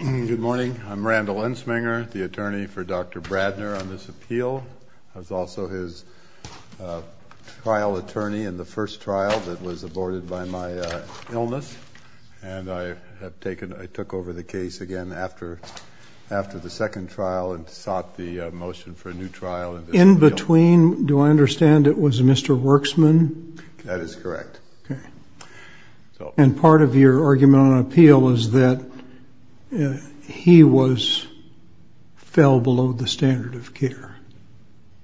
Good morning. I'm Randall Ensminger, the attorney for Dr. Brandner on this appeal. I was also his trial attorney in the first trial that was aborted by my illness. And I have taken – I took over the case again after the second trial and sought the motion for a new trial. In between, do I understand, it was Mr. Werksman? That is correct. Okay. And part of your argument on appeal was that he was – fell below the standard of care.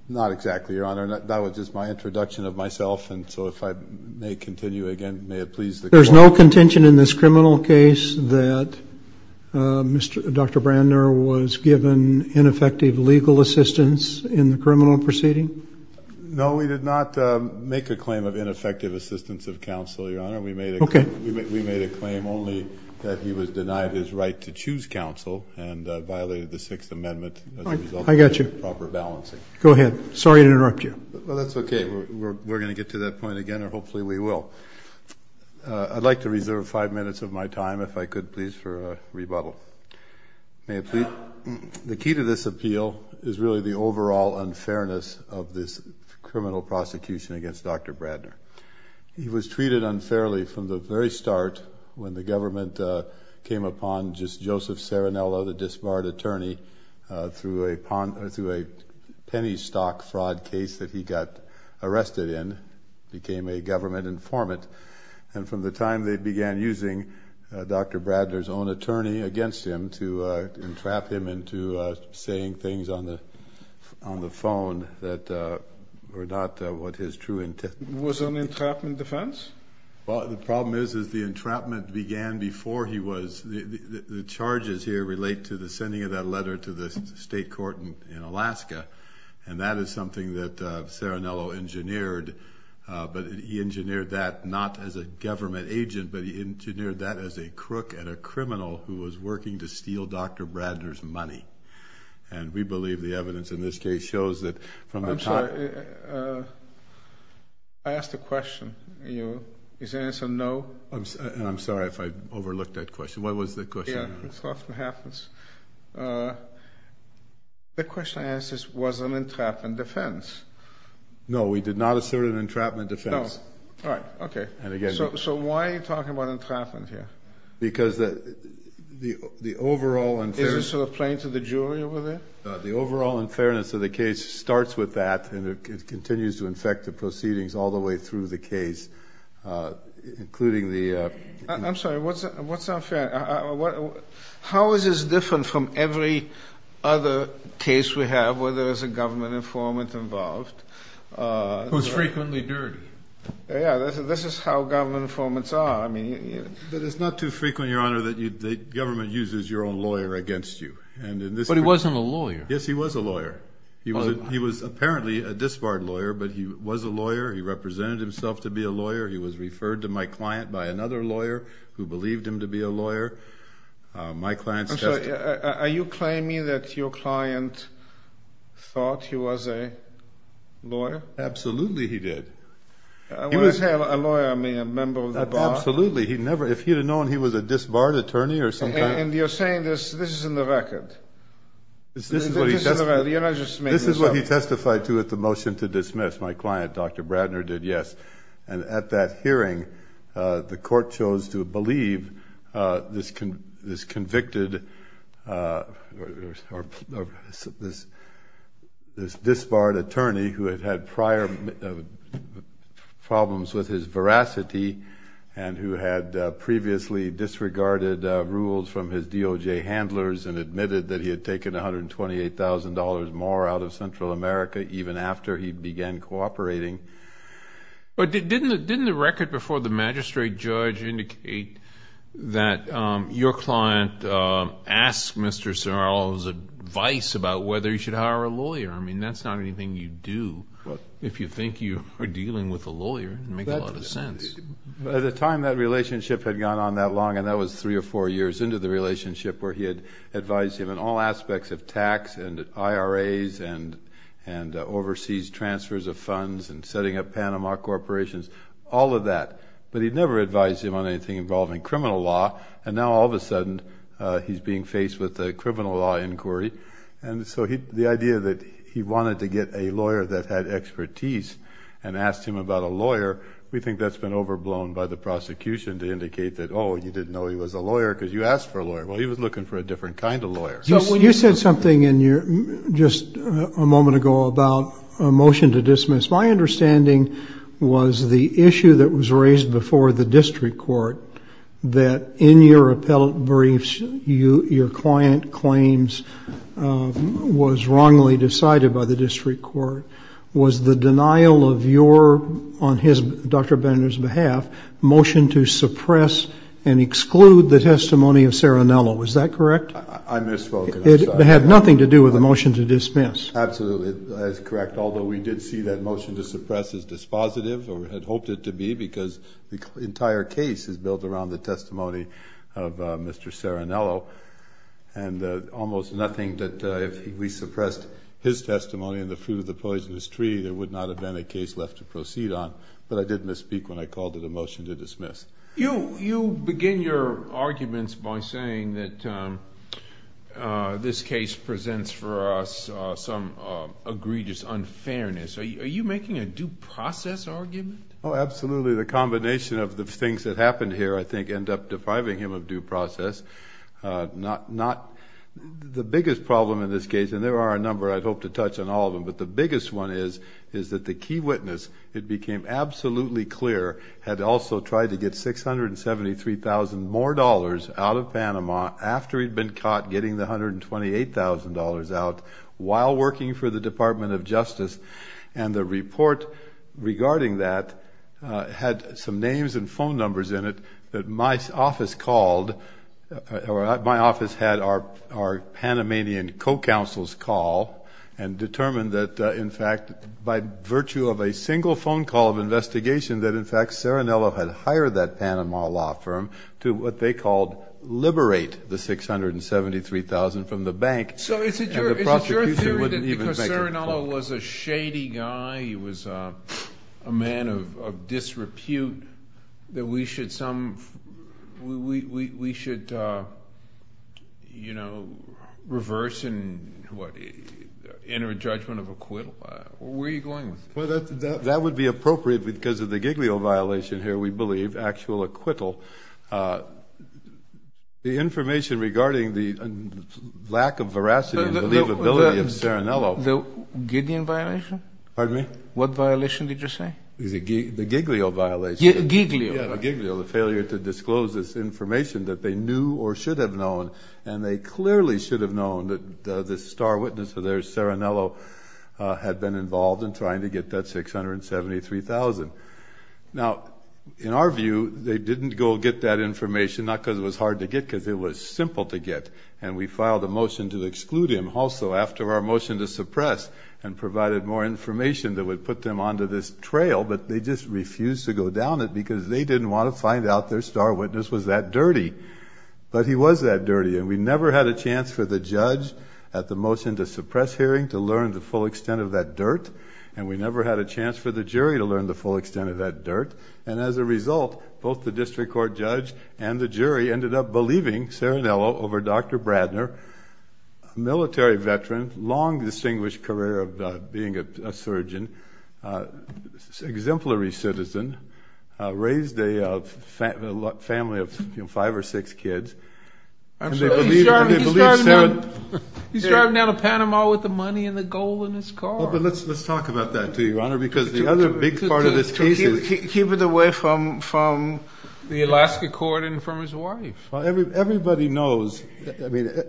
Not exactly, Your Honor. That was just my introduction of myself. And so if I may continue again, may it please the Court. There's no contention in this criminal case that Dr. Brandner was given ineffective legal assistance in the criminal proceeding? No, we did not make a claim of ineffective assistance of counsel, Your Honor. Okay. We made a claim only that he was denied his right to choose counsel and violated the Sixth Amendment as a result of improper balancing. I got you. Go ahead. Sorry to interrupt you. Well, that's okay. We're going to get to that point again, or hopefully we will. I'd like to reserve five minutes of my time, if I could please, for a rebuttal. May I please? The key to this appeal is really the overall unfairness of this criminal prosecution against Dr. Brandner. He was treated unfairly from the very start when the government came upon Joseph Serenella, the disbarred attorney, through a penny stock fraud case that he got arrested in, became a government informant. And from the time they began using Dr. Brandner's own attorney against him to entrap him into saying things on the phone that were not what his true intent was. Was it an entrapment defense? Well, the problem is the entrapment began before he was. The charges here relate to the sending of that letter to the state court in Alaska. And that is something that Serenella engineered, but he engineered that not as a government agent, but he engineered that as a crook and a criminal who was working to steal Dr. Brandner's money. And we believe the evidence in this case shows that from the time... I'm sorry. I asked a question. Is the answer no? I'm sorry if I overlooked that question. What was the question? It often happens. The question I asked is, was it an entrapment defense? No, we did not assert an entrapment defense. No. All right. Okay. So why are you talking about entrapment here? Because the overall... Is it sort of playing to the jury over there? The overall unfairness of the case starts with that, and it continues to infect the proceedings all the way through the case, including the... I'm sorry. What's unfair? How is this different from every other case we have where there is a government informant involved? Who's frequently dirtied. Yeah. This is how government informants are. It's not too frequent, Your Honor, that the government uses your own lawyer against you. But he wasn't a lawyer. Yes, he was a lawyer. He was apparently a disbarred lawyer, but he was a lawyer. He represented himself to be a lawyer. He was referred to my client by another lawyer who believed him to be a lawyer. My client's testimony... I'm sorry. Are you claiming that your client thought he was a lawyer? Absolutely he did. When I say a lawyer, I mean a member of the bar? Absolutely. He never... If he'd have known he was a disbarred attorney or some kind... And you're saying this, this is in the record. This is what he testified to at the motion to dismiss. Yes, my client, Dr. Bradner, did, yes. And at that hearing, the court chose to believe this convicted... or this disbarred attorney who had had prior problems with his veracity and who had previously disregarded rules from his DOJ handlers and admitted that he had taken $128,000 more out of Central America even after he began cooperating. But didn't the record before the magistrate judge indicate that your client asked Mr. Serral's advice about whether he should hire a lawyer? I mean, that's not anything you do if you think you are dealing with a lawyer. It doesn't make a lot of sense. At the time that relationship had gone on that long, and that was three or four years into the relationship, where he had advised him on all aspects of tax and IRAs and overseas transfers of funds and setting up Panama corporations, all of that. But he'd never advised him on anything involving criminal law, and now all of a sudden he's being faced with a criminal law inquiry. And so the idea that he wanted to get a lawyer that had expertise and asked him about a lawyer, we think that's been overblown by the prosecution to indicate that, oh, you didn't know he was a lawyer because you asked for a lawyer. Well, he was looking for a different kind of lawyer. So when you said something just a moment ago about a motion to dismiss, my understanding was the issue that was raised before the district court, that in your appellate briefs your client claims was wrongly decided by the district court, was the denial of your, on Dr. Benner's behalf, motion to suppress and exclude the testimony of Saranello. Is that correct? I misspoke. It had nothing to do with the motion to dismiss. Absolutely, that is correct, although we did see that motion to suppress as dispositive or had hoped it to be because the entire case is built around the testimony of Mr. Saranello and almost nothing that if we suppressed his testimony and the fruit of the poisonous tree, there would not have been a case left to proceed on. But I did misspeak when I called it a motion to dismiss. You begin your arguments by saying that this case presents for us some egregious unfairness. Are you making a due process argument? Oh, absolutely. The combination of the things that happened here, I think, end up depriving him of due process. The biggest problem in this case, and there are a number I'd hope to touch on all of them, but the biggest one is that the key witness, it became absolutely clear, had also tried to get $673,000 more dollars out of Panama after he'd been caught getting the $128,000 out while working for the Department of Justice, and the report regarding that had some names and phone numbers in it that my office called, or my office had our Panamanian co-counsels call and determined that, in fact, by virtue of a single phone call of investigation that, in fact, Saranello had hired that Panama law firm to what they called liberate the $673,000 from the bank. So is it your theory that because Saranello was a shady guy, he was a man of disrepute, that we should reverse and enter a judgment of acquittal? Where are you going with that? That would be appropriate because of the Giglio violation here, we believe, actual acquittal. The information regarding the lack of veracity and believability of Saranello. The Gideon violation? Pardon me? What violation did you say? The Giglio violation. Giglio. Yeah, the Giglio, the failure to disclose this information that they knew or should have known, and they clearly should have known that the star witness of theirs, Saranello, had been involved in trying to get that $673,000. Now, in our view, they didn't go get that information, not because it was hard to get, because it was simple to get, and we filed a motion to exclude him also after our motion to suppress and provided more information that would put them onto this trail, but they just refused to go down it because they didn't want to find out their star witness was that dirty. But he was that dirty, and we never had a chance for the judge at the motion to suppress hearing to learn the full extent of that dirt, and we never had a chance for the jury to learn the full extent of that dirt. And as a result, both the district court judge and the jury ended up believing Saranello over Dr. Bradner, a military veteran, long distinguished career of being a surgeon, exemplary citizen, raised a family of five or six kids. He's driving down to Panama with the money and the gold in his car. Well, but let's talk about that, too, Your Honor, because the other big part of this case is... To keep it away from the Alaska court and from his wife. Well, everybody knows, I mean,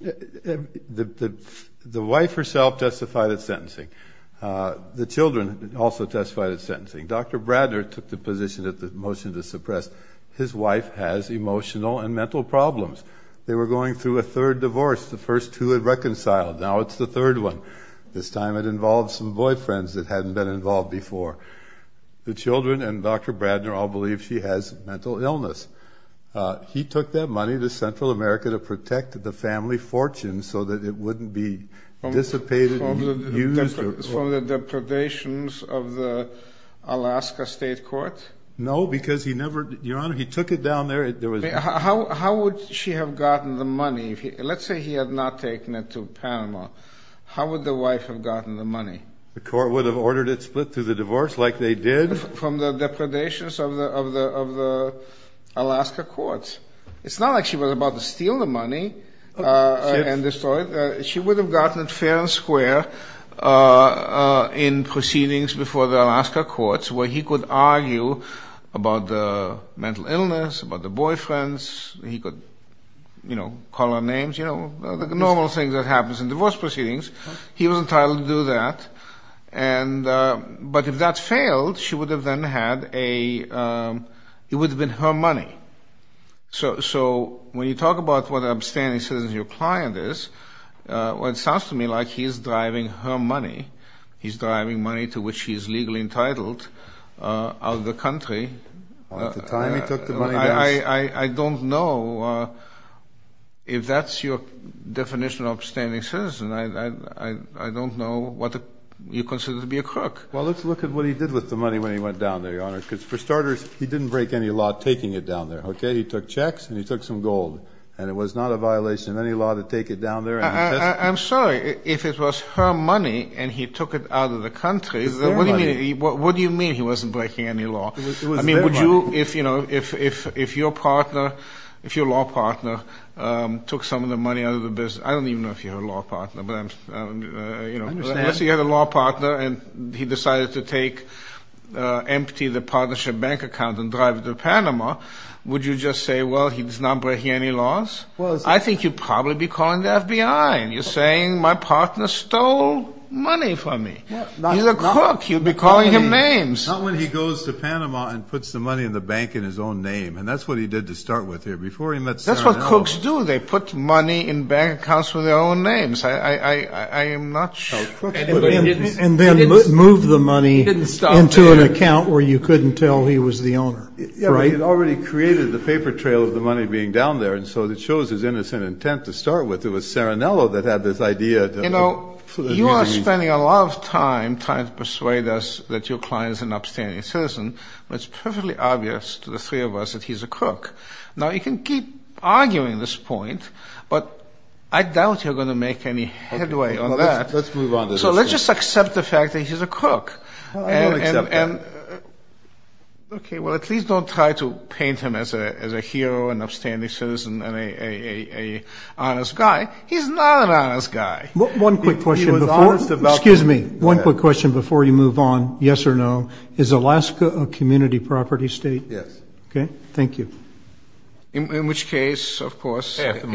the wife herself testified at sentencing. The children also testified at sentencing. Dr. Bradner took the position at the motion to suppress. His wife has emotional and mental problems. They were going through a third divorce. The first two had reconciled. Now it's the third one. This time it involved some boyfriends that hadn't been involved before. The children and Dr. Bradner all believe she has mental illness. He took that money to Central America to protect the family fortune so that it wouldn't be dissipated and used. From the depredations of the Alaska state court? No, because he never, Your Honor, he took it down there. How would she have gotten the money? Let's say he had not taken it to Panama. How would the wife have gotten the money? The court would have ordered it split through the divorce like they did. From the depredations of the Alaska courts. It's not like she was about to steal the money and destroy it. She would have gotten it fair and square in proceedings before the Alaska courts where he could argue about the mental illness, about the boyfriends. He could, you know, call her names, you know, the normal thing that happens in divorce proceedings. He was entitled to do that. But if that failed, she would have then had a, it would have been her money. So when you talk about what an abstaining citizen your client is, it sounds to me like he's driving her money. He's driving money to which he is legally entitled out of the country. At the time he took the money, yes. I don't know if that's your definition of an abstaining citizen. I don't know what you consider to be a crook. Well, let's look at what he did with the money when he went down there, Your Honor, because for starters he didn't break any law taking it down there, okay? He took checks and he took some gold, and it was not a violation of any law to take it down there. I'm sorry. If it was her money and he took it out of the country, what do you mean he wasn't breaking any law? I mean, would you, if, you know, if your partner, if your law partner took some of the money out of the business, I don't even know if you're her law partner, but I'm, you know. I understand. and he decided to take, empty the partnership bank account and drive it to Panama. Would you just say, well, he's not breaking any laws? I think you'd probably be calling the FBI, and you're saying my partner stole money from me. He's a crook. You'd be calling him names. Not when he goes to Panama and puts the money in the bank in his own name, and that's what he did to start with here. Before he met Sarinello. That's what crooks do. They put money in bank accounts with their own names. I am not sure. And then moved the money into an account where you couldn't tell he was the owner. Yeah, but he'd already created the paper trail of the money being down there, and so it shows his innocent intent to start with. It was Sarinello that had this idea. You know, you are spending a lot of time trying to persuade us that your client is an upstanding citizen, but it's perfectly obvious to the three of us that he's a crook. Now, you can keep arguing this point, but I doubt you're going to make any headway on that. Let's move on to this. So let's just accept the fact that he's a crook. I don't accept that. Okay, well, at least don't try to paint him as a hero, an upstanding citizen, and an honest guy. He's not an honest guy. One quick question before you move on, yes or no, is Alaska a community property state? Yes. Okay, thank you. In which case, of course, half the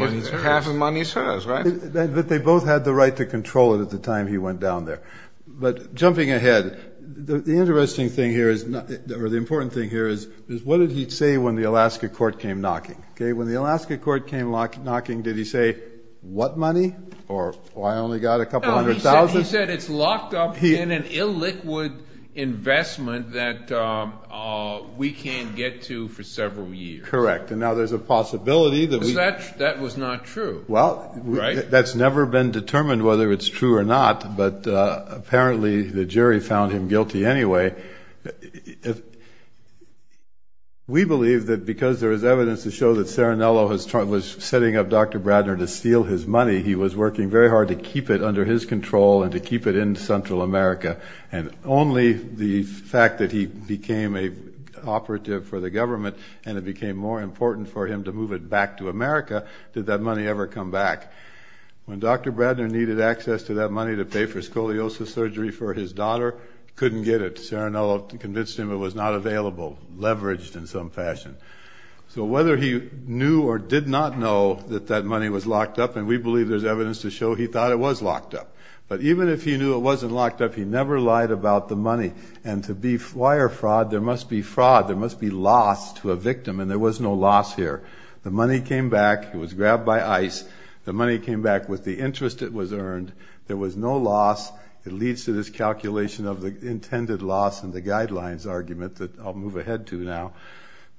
money is hers, right? But they both had the right to control it at the time he went down there. But jumping ahead, the interesting thing here is, or the important thing here is, what did he say when the Alaska court came knocking? Okay, when the Alaska court came knocking, did he say, what money, or I only got a couple hundred thousand? He said it's locked up in an illiquid investment that we can't get to for several years. Correct. And now there's a possibility that we – Because that was not true, right? Well, that's never been determined whether it's true or not, but apparently the jury found him guilty anyway. We believe that because there is evidence to show that Cerenello was setting up Dr. Bradner to steal his money, he was working very hard to keep it under his control and to keep it in Central America, and only the fact that he became an operative for the government and it became more important for him to move it back to America did that money ever come back. When Dr. Bradner needed access to that money to pay for scoliosis surgery for his daughter, couldn't get it. Cerenello convinced him it was not available, leveraged in some fashion. So whether he knew or did not know that that money was locked up, and we believe there's evidence to show he thought it was locked up, but even if he knew it wasn't locked up, he never lied about the money. And to be wire fraud, there must be fraud. There must be loss to a victim, and there was no loss here. The money came back. It was grabbed by ICE. The money came back with the interest it was earned. There was no loss. It leads to this calculation of the intended loss and the guidelines argument that I'll move ahead to now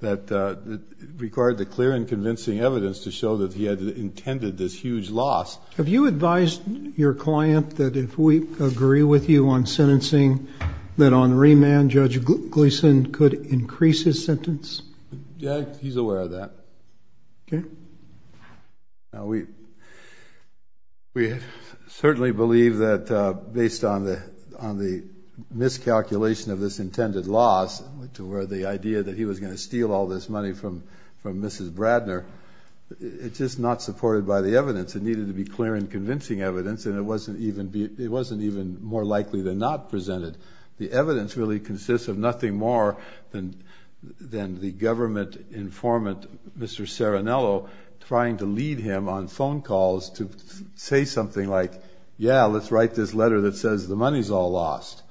that required the clear and convincing evidence to show that he had intended this huge loss. Have you advised your client that if we agree with you on sentencing, that on remand Judge Gleeson could increase his sentence? Yeah, he's aware of that. Okay. We certainly believe that based on the miscalculation of this intended loss to where the idea that he was going to steal all this money from Mrs. Bradner, it's just not supported by the evidence. It needed to be clear and convincing evidence, and it wasn't even more likely than not presented. The evidence really consists of nothing more than the government informant, Mr. Serinello, trying to lead him on phone calls to say something like, yeah, let's write this letter that says the money's all lost.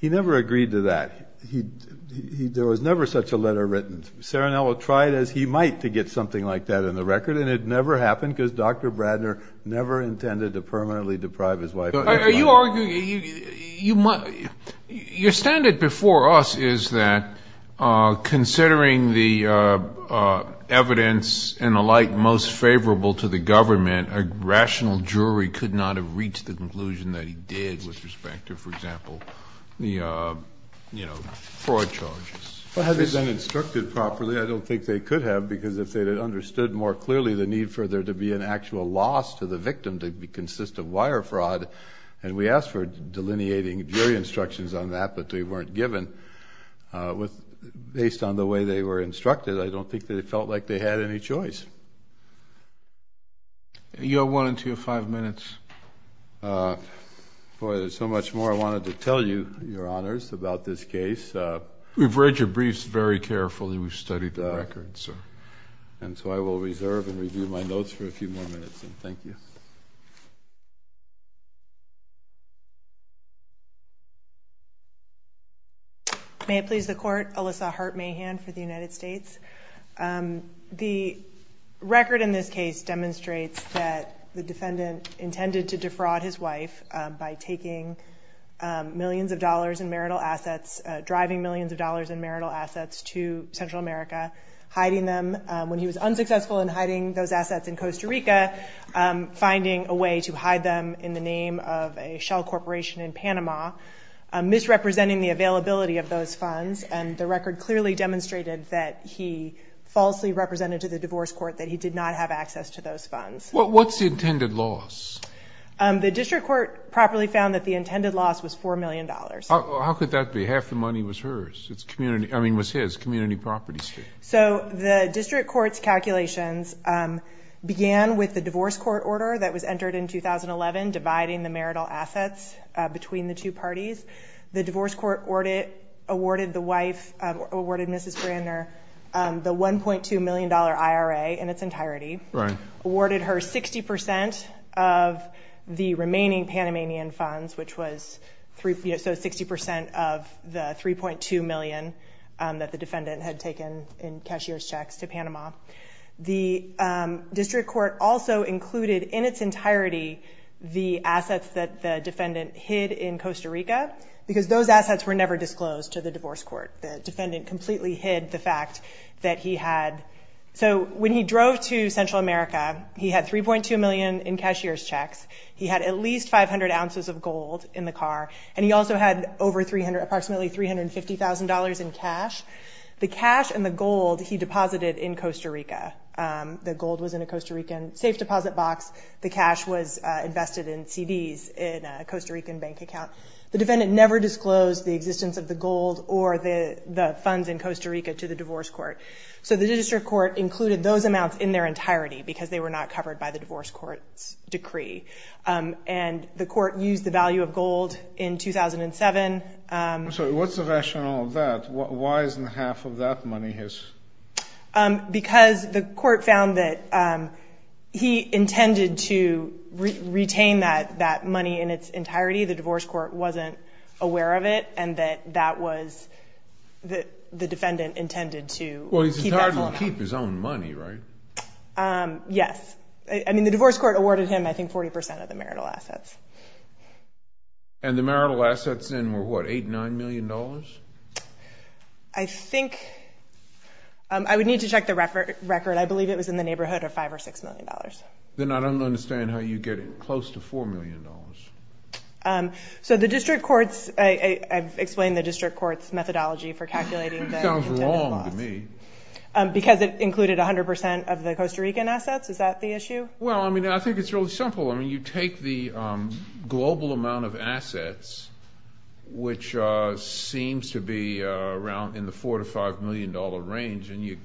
He never agreed to that. There was never such a letter written. Serinello tried as he might to get something like that in the record, and it never happened because Dr. Bradner never intended to permanently deprive his wife of her money. Are you arguing you might ‑‑ your standard before us is that considering the evidence and the like most favorable to the government, a rational jury could not have reached the conclusion that he did with respect to, for example, the fraud charges? Well, had they been instructed properly, I don't think they could have because if they had understood more clearly the need for there to be an actual loss to the victim to consist of wire fraud, and we asked for delineating jury instructions on that, but they weren't given. Based on the way they were instructed, I don't think they felt like they had any choice. You have one and two or five minutes. Boy, there's so much more I wanted to tell you, Your Honors, about this case. We've read your briefs very carefully. We've studied the records, sir. And so I will reserve and review my notes for a few more minutes, and thank you. May it please the Court, Alyssa Hart Mahan for the United States. The record in this case demonstrates that the defendant intended to defraud his wife by taking millions of dollars in marital assets, driving millions of dollars in marital assets to Central America, hiding them when he was unsuccessful in hiding those assets in Costa Rica, finding a way to hide them in the name of a shell corporation in Panama, misrepresenting the availability of those funds, and the record clearly demonstrated that he falsely represented to the divorce court that he did not have access to those funds. What's the intended loss? The district court properly found that the intended loss was $4 million. How could that be? Half the money was hers. I mean, was his, community properties. So the district court's calculations began with the divorce court order that was entered in 2011, dividing the marital assets between the two parties. The divorce court awarded the wife, awarded Mrs. Brandner the $1.2 million IRA in its entirety, awarded her 60% of the remaining Panamanian funds, which was 60% of the $3.2 million that the defendant had taken in cashier's checks to Panama. The district court also included in its entirety the assets that the defendant hid in Costa Rica because those assets were never disclosed to the divorce court. The defendant completely hid the fact that he had. So when he drove to Central America, he had $3.2 million in cashier's checks. He had at least 500 ounces of gold in the car, and he also had approximately $350,000 in cash. The cash and the gold he deposited in Costa Rica. The gold was in a Costa Rican safe deposit box. The cash was invested in CDs in a Costa Rican bank account. The defendant never disclosed the existence of the gold or the funds in Costa Rica to the divorce court. So the district court included those amounts in their entirety because they were not covered by the divorce court's decree. And the court used the value of gold in 2007. So what's the rationale of that? Why isn't half of that money his? Because the court found that he intended to retain that money in its entirety. The divorce court wasn't aware of it, and that that was the defendant intended to keep that money. Well, he's entitled to keep his own money, right? I mean, the divorce court awarded him, I think, 40 percent of the marital assets. And the marital assets then were what, $8 million, $9 million? I think I would need to check the record. I believe it was in the neighborhood of $5 million or $6 million. Then I don't understand how you get close to $4 million. So the district courts, I've explained the district court's methodology for calculating the loss. That sounds wrong to me. Because it included 100 percent of the Costa Rican assets. Is that the issue? Well, I mean, I think it's really simple. I mean, you take the global amount of assets, which seems to be around in the $4 million to $5 million range, and you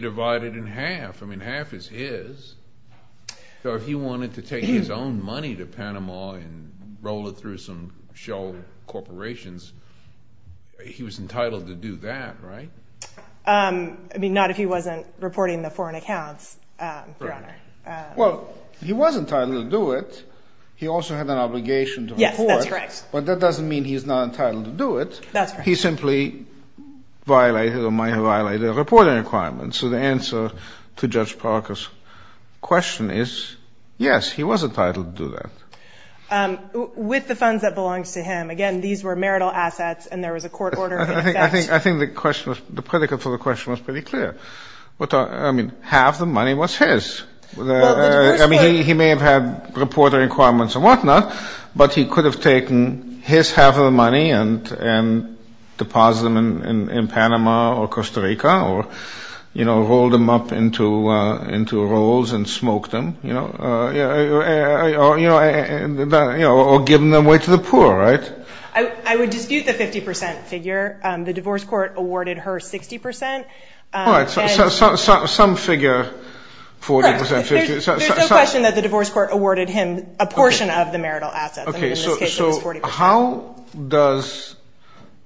divide it in half. I mean, half is his. So if he wanted to take his own money to Panama and roll it through some shell corporations, he was entitled to do that, right? I mean, not if he wasn't reporting the foreign accounts, Your Honor. Well, he was entitled to do it. He also had an obligation to report. Yes, that's correct. But that doesn't mean he's not entitled to do it. That's right. He simply violated or might have violated a reporting requirement. So the answer to Judge Parker's question is, yes, he was entitled to do that. With the funds that belonged to him, again, these were marital assets and there was a court order in effect. I think the question was, the predicate for the question was pretty clear. I mean, half the money was his. I mean, he may have had reporting requirements and whatnot, but he could have taken his half of the money and deposited them in Panama or Costa Rica or, you know, rolled them up into rolls and smoked them, you know, or given them away to the poor, right? I would dispute the 50 percent figure. The divorce court awarded her 60 percent. All right. So some figure 40 percent, 50 percent. There's no question that the divorce court awarded him a portion of the marital assets. Okay. In this case, it was 40 percent. So how does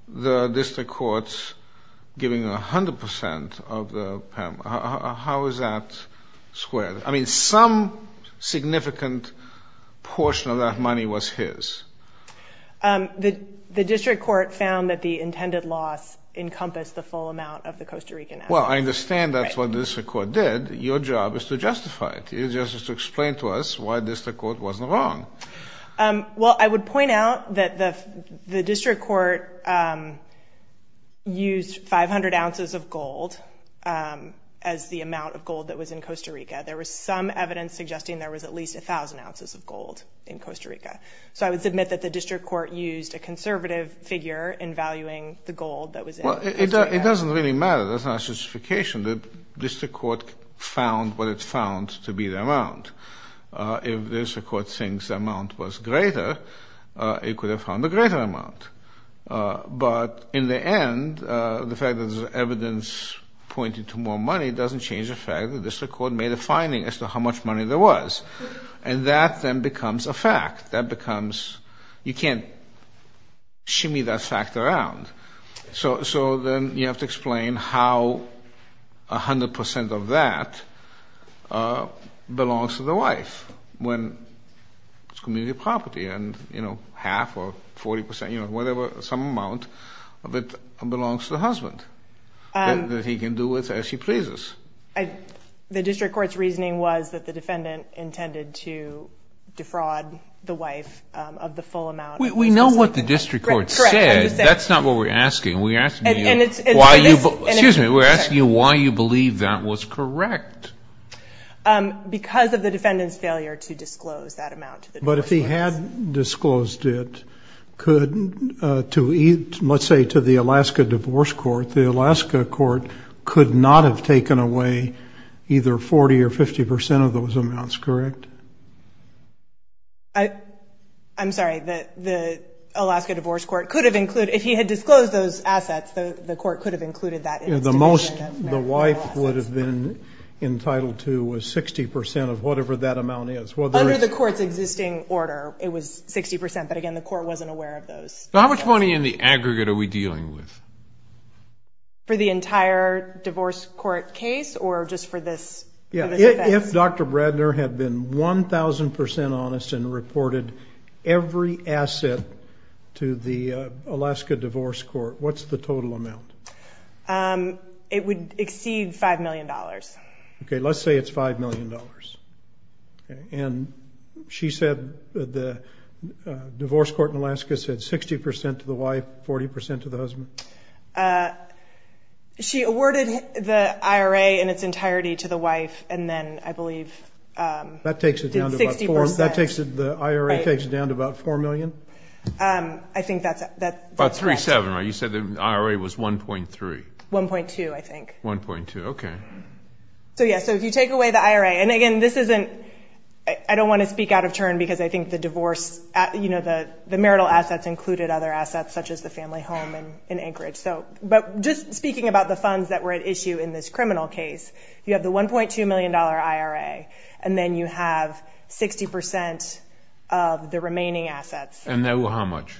the district court, giving 100 percent of the Panama, how is that squared? I mean, some significant portion of that money was his. The district court found that the intended loss encompassed the full amount of the Costa Rican assets. Well, I understand that's what the district court did. Your job is to justify it. Your job is to explain to us why the district court wasn't wrong. Well, I would point out that the district court used 500 ounces of gold as the amount of gold that was in Costa Rica. There was some evidence suggesting there was at least 1,000 ounces of gold in Costa Rica. So I would submit that the district court used a conservative figure in valuing the gold that was in Costa Rica. Well, it doesn't really matter. That's not a justification. The district court found what it found to be the amount. If the district court thinks the amount was greater, it could have found a greater amount. But in the end, the fact that there's evidence pointing to more money doesn't change the fact that the district court made a finding as to how much money there was. And that then becomes a fact. That becomes you can't shimmy that fact around. So then you have to explain how 100% of that belongs to the wife when it's community property, and, you know, half or 40%, you know, whatever, some amount of it belongs to the husband that he can do with as he pleases. The district court's reasoning was that the defendant intended to defraud the wife of the full amount. We know what the district court said. That's not what we're asking. We're asking you why you believe that was correct. Because of the defendant's failure to disclose that amount to the divorce court. The divorce court could not have taken away either 40% or 50% of those amounts, correct? I'm sorry. The Alaska Divorce Court could have included, if he had disclosed those assets, the court could have included that. The most the wife would have been entitled to was 60% of whatever that amount is. Under the court's existing order, it was 60%. But, again, the court wasn't aware of those. How much money in the aggregate are we dealing with? For the entire divorce court case or just for this? Yeah, if Dr. Bradner had been 1,000% honest and reported every asset to the Alaska Divorce Court, what's the total amount? It would exceed $5 million. Okay, let's say it's $5 million. And she said the divorce court in Alaska said 60% to the wife, 40% to the husband? She awarded the IRA in its entirety to the wife and then, I believe, did 60%. That takes it down to about 4 million? I think that's correct. About 3-7, right? You said the IRA was 1.3. 1.2, I think. 1.2, okay. Yeah, so if you take away the IRA, and, again, this isn't – I don't want to speak out of turn because I think the divorce – the marital assets included other assets such as the family home in Anchorage. But just speaking about the funds that were at issue in this criminal case, you have the $1.2 million IRA, and then you have 60% of the remaining assets. And that was how much?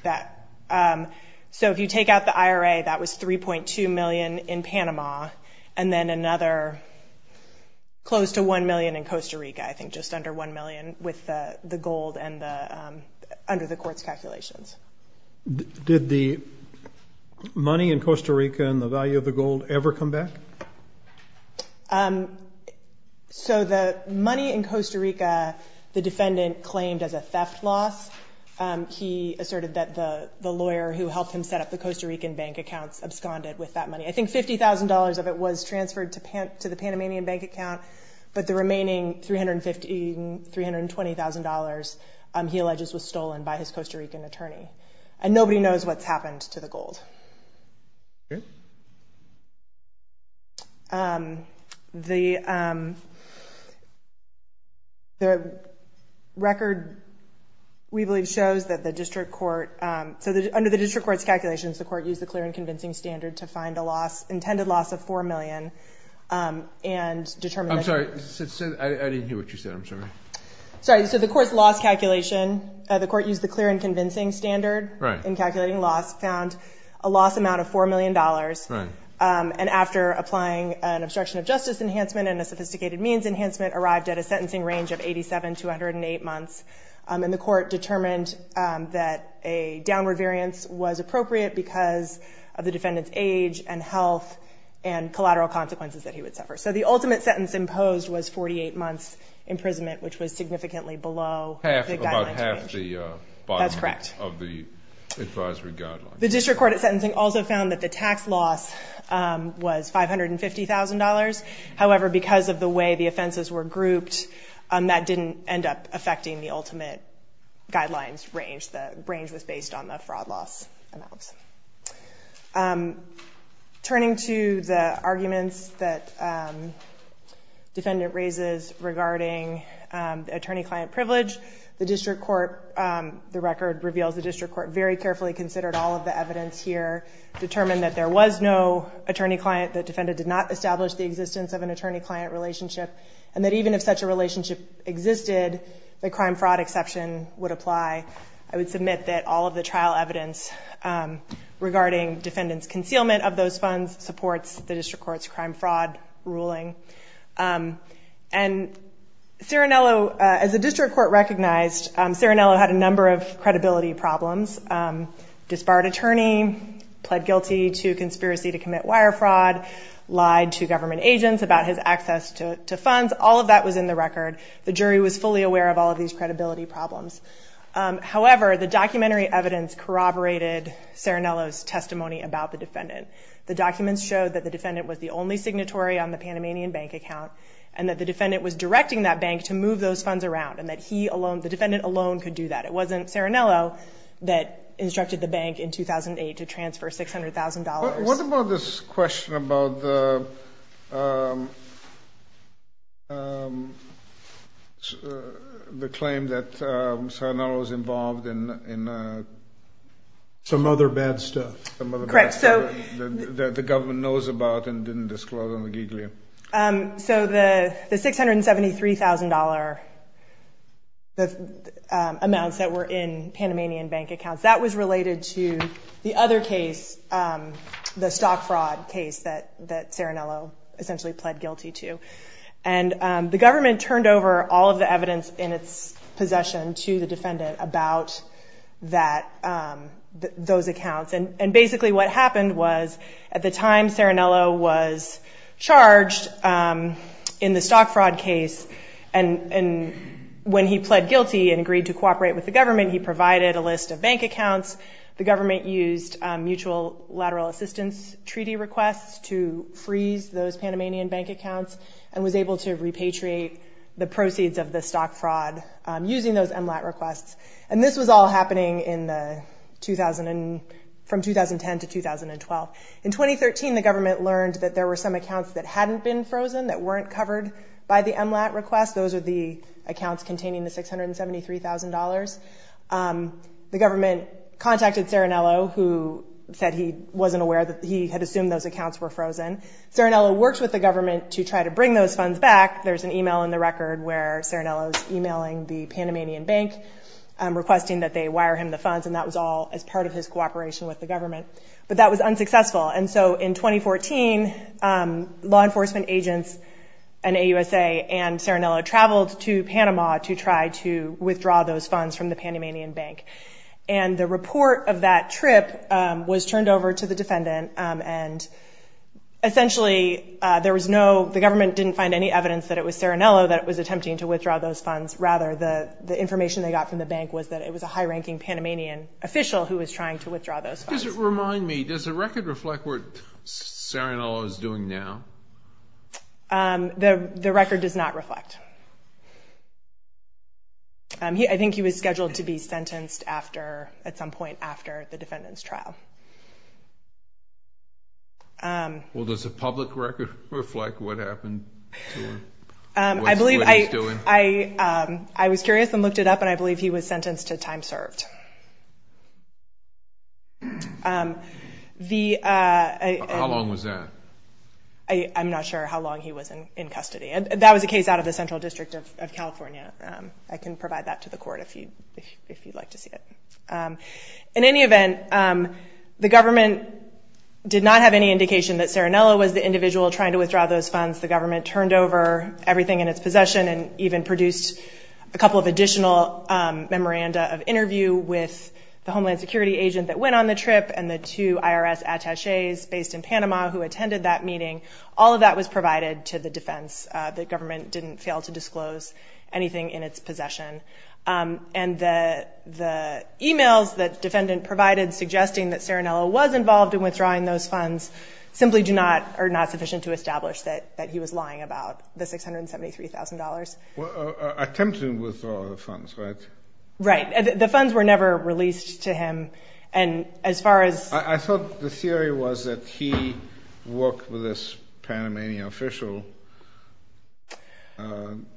So if you take out the IRA, that was 3.2 million in Panama, and then another close to 1 million in Costa Rica, I think just under 1 million with the gold and under the court's calculations. Did the money in Costa Rica and the value of the gold ever come back? So the money in Costa Rica, the defendant claimed as a theft loss. He asserted that the lawyer who helped him set up the Costa Rican bank accounts absconded with that money. I think $50,000 of it was transferred to the Panamanian bank account, but the remaining $320,000, he alleges, was stolen by his Costa Rican attorney. And nobody knows what's happened to the gold. Okay. The record, we believe, shows that the district court – so under the district court's calculations, the court used the clear and convincing standard to find a loss, intended loss of $4 million, and determined that – I'm sorry. I didn't hear what you said. I'm sorry. Sorry. So the court's loss calculation, the court used the clear and convincing standard in calculating loss, found a loss amount of $4 million. And after applying an obstruction of justice enhancement and a sophisticated means enhancement, arrived at a sentencing range of 87 to 108 months. And the court determined that a downward variance was appropriate because of the defendant's age and health and collateral consequences that he would suffer. So the ultimate sentence imposed was 48 months' imprisonment, which was significantly below the guideline. That's correct. The district court at sentencing also found that the tax loss was $550,000. However, because of the way the offenses were grouped, that didn't end up affecting the ultimate guidelines range. The range was based on the fraud loss amounts. Turning to the arguments that the defendant raises regarding attorney-client privilege, the district court – the record reveals the district court very carefully considered all of the evidence here, determined that there was no attorney-client, the defendant did not establish the existence of an attorney-client relationship, and that even if such a relationship existed, the crime-fraud exception would apply. I would submit that all of the trial evidence regarding defendant's concealment of those funds supports the district court's crime-fraud ruling. As the district court recognized, Serinello had a number of credibility problems. Disbarred attorney, pled guilty to conspiracy to commit wire fraud, lied to government agents about his access to funds. All of that was in the record. The jury was fully aware of all of these credibility problems. However, the documentary evidence corroborated Serinello's testimony about the defendant. The documents showed that the defendant was the only signatory on the Panamanian bank account and that the defendant was directing that bank to move those funds around and that the defendant alone could do that. It wasn't Serinello that instructed the bank in 2008 to transfer $600,000. What about this question about the claim that Serinello was involved in some other bad stuff? Some other bad stuff that the government knows about and didn't disclose on the giglier? So the $673,000 amounts that were in Panamanian bank accounts, that was related to the other case, the stock-fraud case that Serinello essentially pled guilty to. And the government turned over all of the evidence in its possession to the defendant about those accounts. And basically what happened was at the time Serinello was charged in the stock-fraud case, and when he pled guilty and agreed to cooperate with the government, he provided a list of bank accounts. The government used mutual lateral assistance treaty requests to freeze those Panamanian bank accounts and was able to repatriate the proceeds of the stock-fraud using those MLAT requests. And this was all happening from 2010 to 2012. In 2013, the government learned that there were some accounts that hadn't been frozen, that weren't covered by the MLAT request. Those are the accounts containing the $673,000. The government contacted Serinello, who said he wasn't aware, that he had assumed those accounts were frozen. Serinello worked with the government to try to bring those funds back. There's an email in the record where Serinello is emailing the Panamanian bank requesting that they wire him the funds, and that was all as part of his cooperation with the government. But that was unsuccessful. And so in 2014, law enforcement agents and AUSA and Serinello traveled to Panama to try to withdraw those funds from the Panamanian bank. And the report of that trip was turned over to the defendant. And essentially, the government didn't find any evidence that it was Serinello that was attempting to withdraw those funds. Rather, the information they got from the bank was that it was a high-ranking Panamanian official who was trying to withdraw those funds. Remind me, does the record reflect what Serinello is doing now? The record does not reflect. I think he was scheduled to be sentenced at some point after the defendant's trial. Well, does the public record reflect what happened to him, what he's doing? I was curious and looked it up, and I believe he was sentenced to time served. How long was that? I'm not sure how long he was in custody. That was a case out of the Central District of California. I can provide that to the court if you'd like to see it. In any event, the government did not have any indication that Serinello was the individual trying to withdraw those funds. The government turned over everything in its possession and even produced a couple of additional memoranda of interview with the Homeland Security agent that went on the trip and the two IRS attachés based in Panama who attended that meeting. All of that was provided to the defense. The government didn't fail to disclose anything in its possession. And the e-mails that the defendant provided suggesting that Serinello was involved in withdrawing those funds simply are not sufficient to establish that he was lying about the $673,000. Attempting to withdraw the funds, right? Right. The funds were never released to him. I thought the theory was that he worked with this Panamanian official.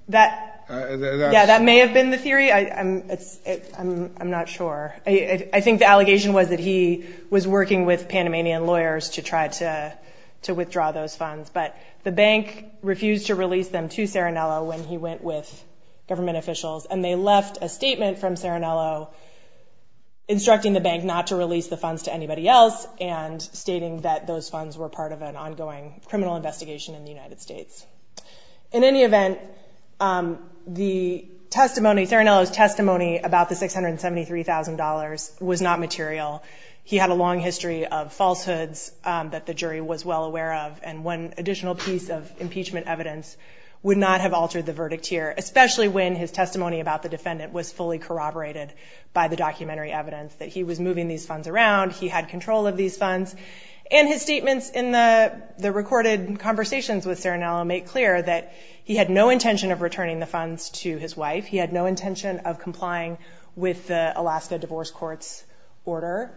That may have been the theory. I'm not sure. I think the allegation was that he was working with Panamanian lawyers to try to withdraw those funds. But the bank refused to release them to Serinello when he went with government officials. And they left a statement from Serinello instructing the bank not to release the funds to anybody else and stating that those funds were part of an ongoing criminal investigation in the United States. In any event, the testimony, Serinello's testimony about the $673,000 was not material. He had a long history of falsehoods that the jury was well aware of. And one additional piece of impeachment evidence would not have altered the verdict here, especially when his testimony about the defendant was fully corroborated by the documentary evidence that he was moving these funds around, he had control of these funds. And his statements in the recorded conversations with Serinello make clear that he had no intention of returning the funds to his wife. He had no intention of complying with the Alaska Divorce Courts order.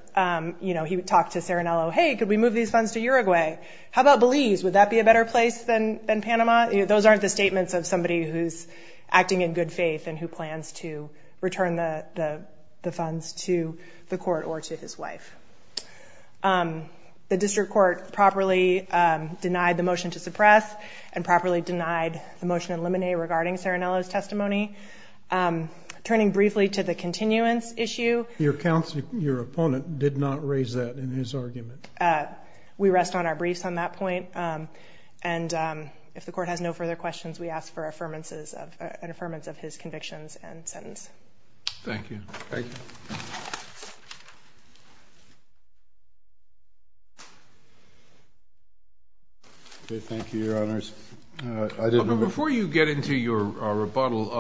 You know, he would talk to Serinello, hey, could we move these funds to Uruguay? How about Belize? Would that be a better place than Panama? Those aren't the statements of somebody who's acting in good faith and who plans to return the funds to the court or to his wife. The district court properly denied the motion to suppress and properly denied the motion to eliminate regarding Serinello's testimony. Turning briefly to the continuance issue. Your opponent did not raise that in his argument. We rest on our briefs on that point. And if the court has no further questions, we ask for an affirmance of his convictions and sentence. Thank you. Thank you. Okay, thank you, Your Honors. Before you get into your rebuttal,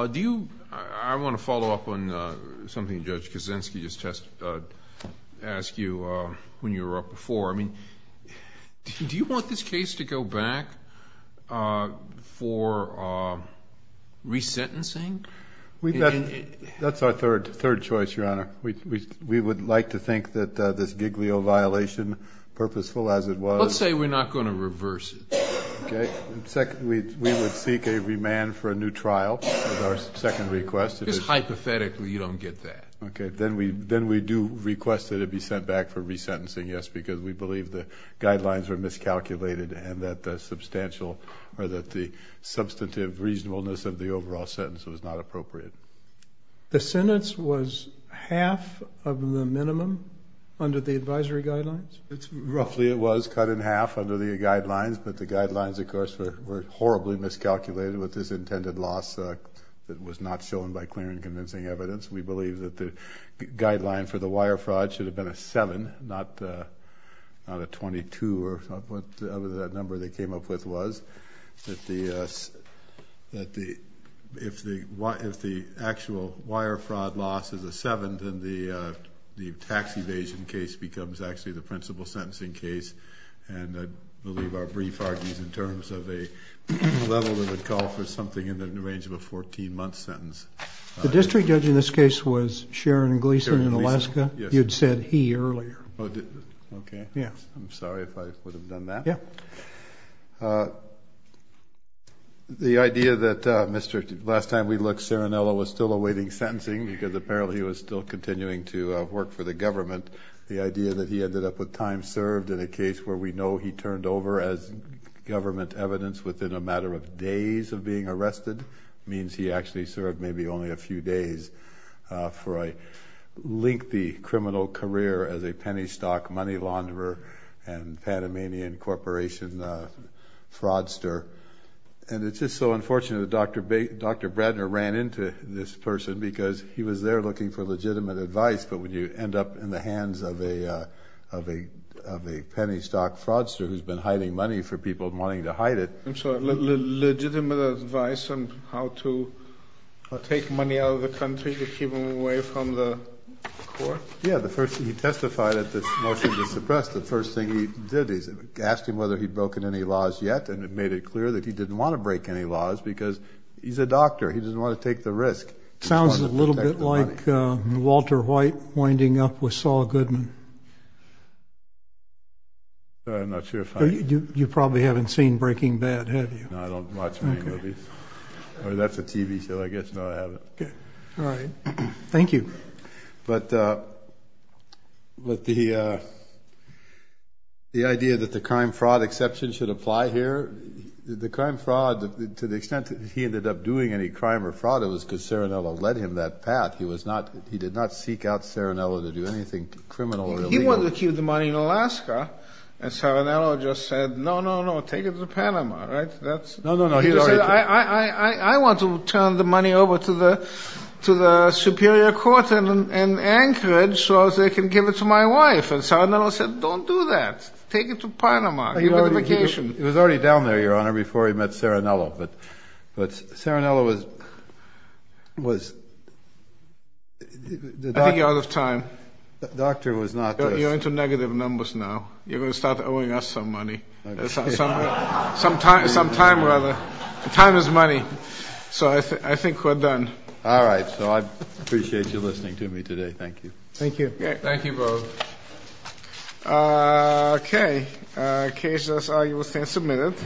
I want to follow up on something Judge Kaczynski just asked you when you were up before. I mean, do you want this case to go back for resentencing? That's our third choice, Your Honor. We would like to think that this Giglio violation, purposeful as it was. Let's say we're not going to reverse it. Okay. We would seek a remand for a new trial with our second request. Just hypothetically, you don't get that. Okay. Then we do request that it be sent back for resentencing, yes, because we believe the guidelines were miscalculated and that the substantive reasonableness of the overall sentence was not appropriate. The sentence was half of the minimum under the advisory guidelines? Roughly it was cut in half under the guidelines, but the guidelines, of course, were horribly miscalculated with this intended loss that was not shown by clear and convincing evidence. We believe that the guideline for the wire fraud should have been a seven, not a 22 or whatever that number they came up with was. If the actual wire fraud loss is a seven, then the tax evasion case becomes actually the principal sentencing case, and I believe our brief argues in terms of a level that would call for something in the range of a 14-month sentence. The district judge in this case was Sharon Gleason in Alaska? Sharon Gleason, yes. You had said he earlier. Okay. Yes. I'm sorry if I would have done that. Yes. The idea that Mr. – last time we looked, Serinello was still awaiting sentencing because apparently he was still continuing to work for the government. The idea that he ended up with time served in a case where we know he turned over as government evidence within a matter of days of being arrested means he actually served maybe only a few days for a lengthy criminal career as a penny stock money launderer and Panamanian Corporation fraudster. And it's just so unfortunate that Dr. Bradner ran into this person because he was there looking for legitimate advice, but when you end up in the hands of a penny stock fraudster who's been hiding money for people wanting to hide it. I'm sorry. Legitimate advice on how to take money out of the country to keep them away from the court? Yeah. He testified at this motion to suppress. The first thing he did, he asked him whether he'd broken any laws yet, and it made it clear that he didn't want to break any laws because he's a doctor. He doesn't want to take the risk. Sounds a little bit like Walter White winding up with Saul Goodman. I'm not sure if I – You probably haven't seen Breaking Bad, have you? No, I don't watch many movies. Okay. Or that's a TV show. I guess no, I haven't. Okay. All right. Thank you. But the idea that the crime-fraud exception should apply here, the crime-fraud, to the extent that he ended up doing any crime or fraud, it was because Serinello led him that path. He did not seek out Serinello to do anything criminal or illegal. Well, he wanted to keep the money in Alaska, and Serinello just said, no, no, no, take it to Panama, right? No, no, no. He just said, I want to turn the money over to the superior court in Anchorage so they can give it to my wife. And Serinello said, don't do that. Take it to Panama. Give it on vacation. It was already down there, Your Honor, before he met Serinello. But Serinello was – I think you're out of time. The doctor was not – You're into negative numbers now. You're going to start owing us some money. Some time, rather. Time is money. So I think we're done. All right. So I appreciate you listening to me today. Thank you. Thank you. Thank you both. Okay. Cases are, you will stand submitted.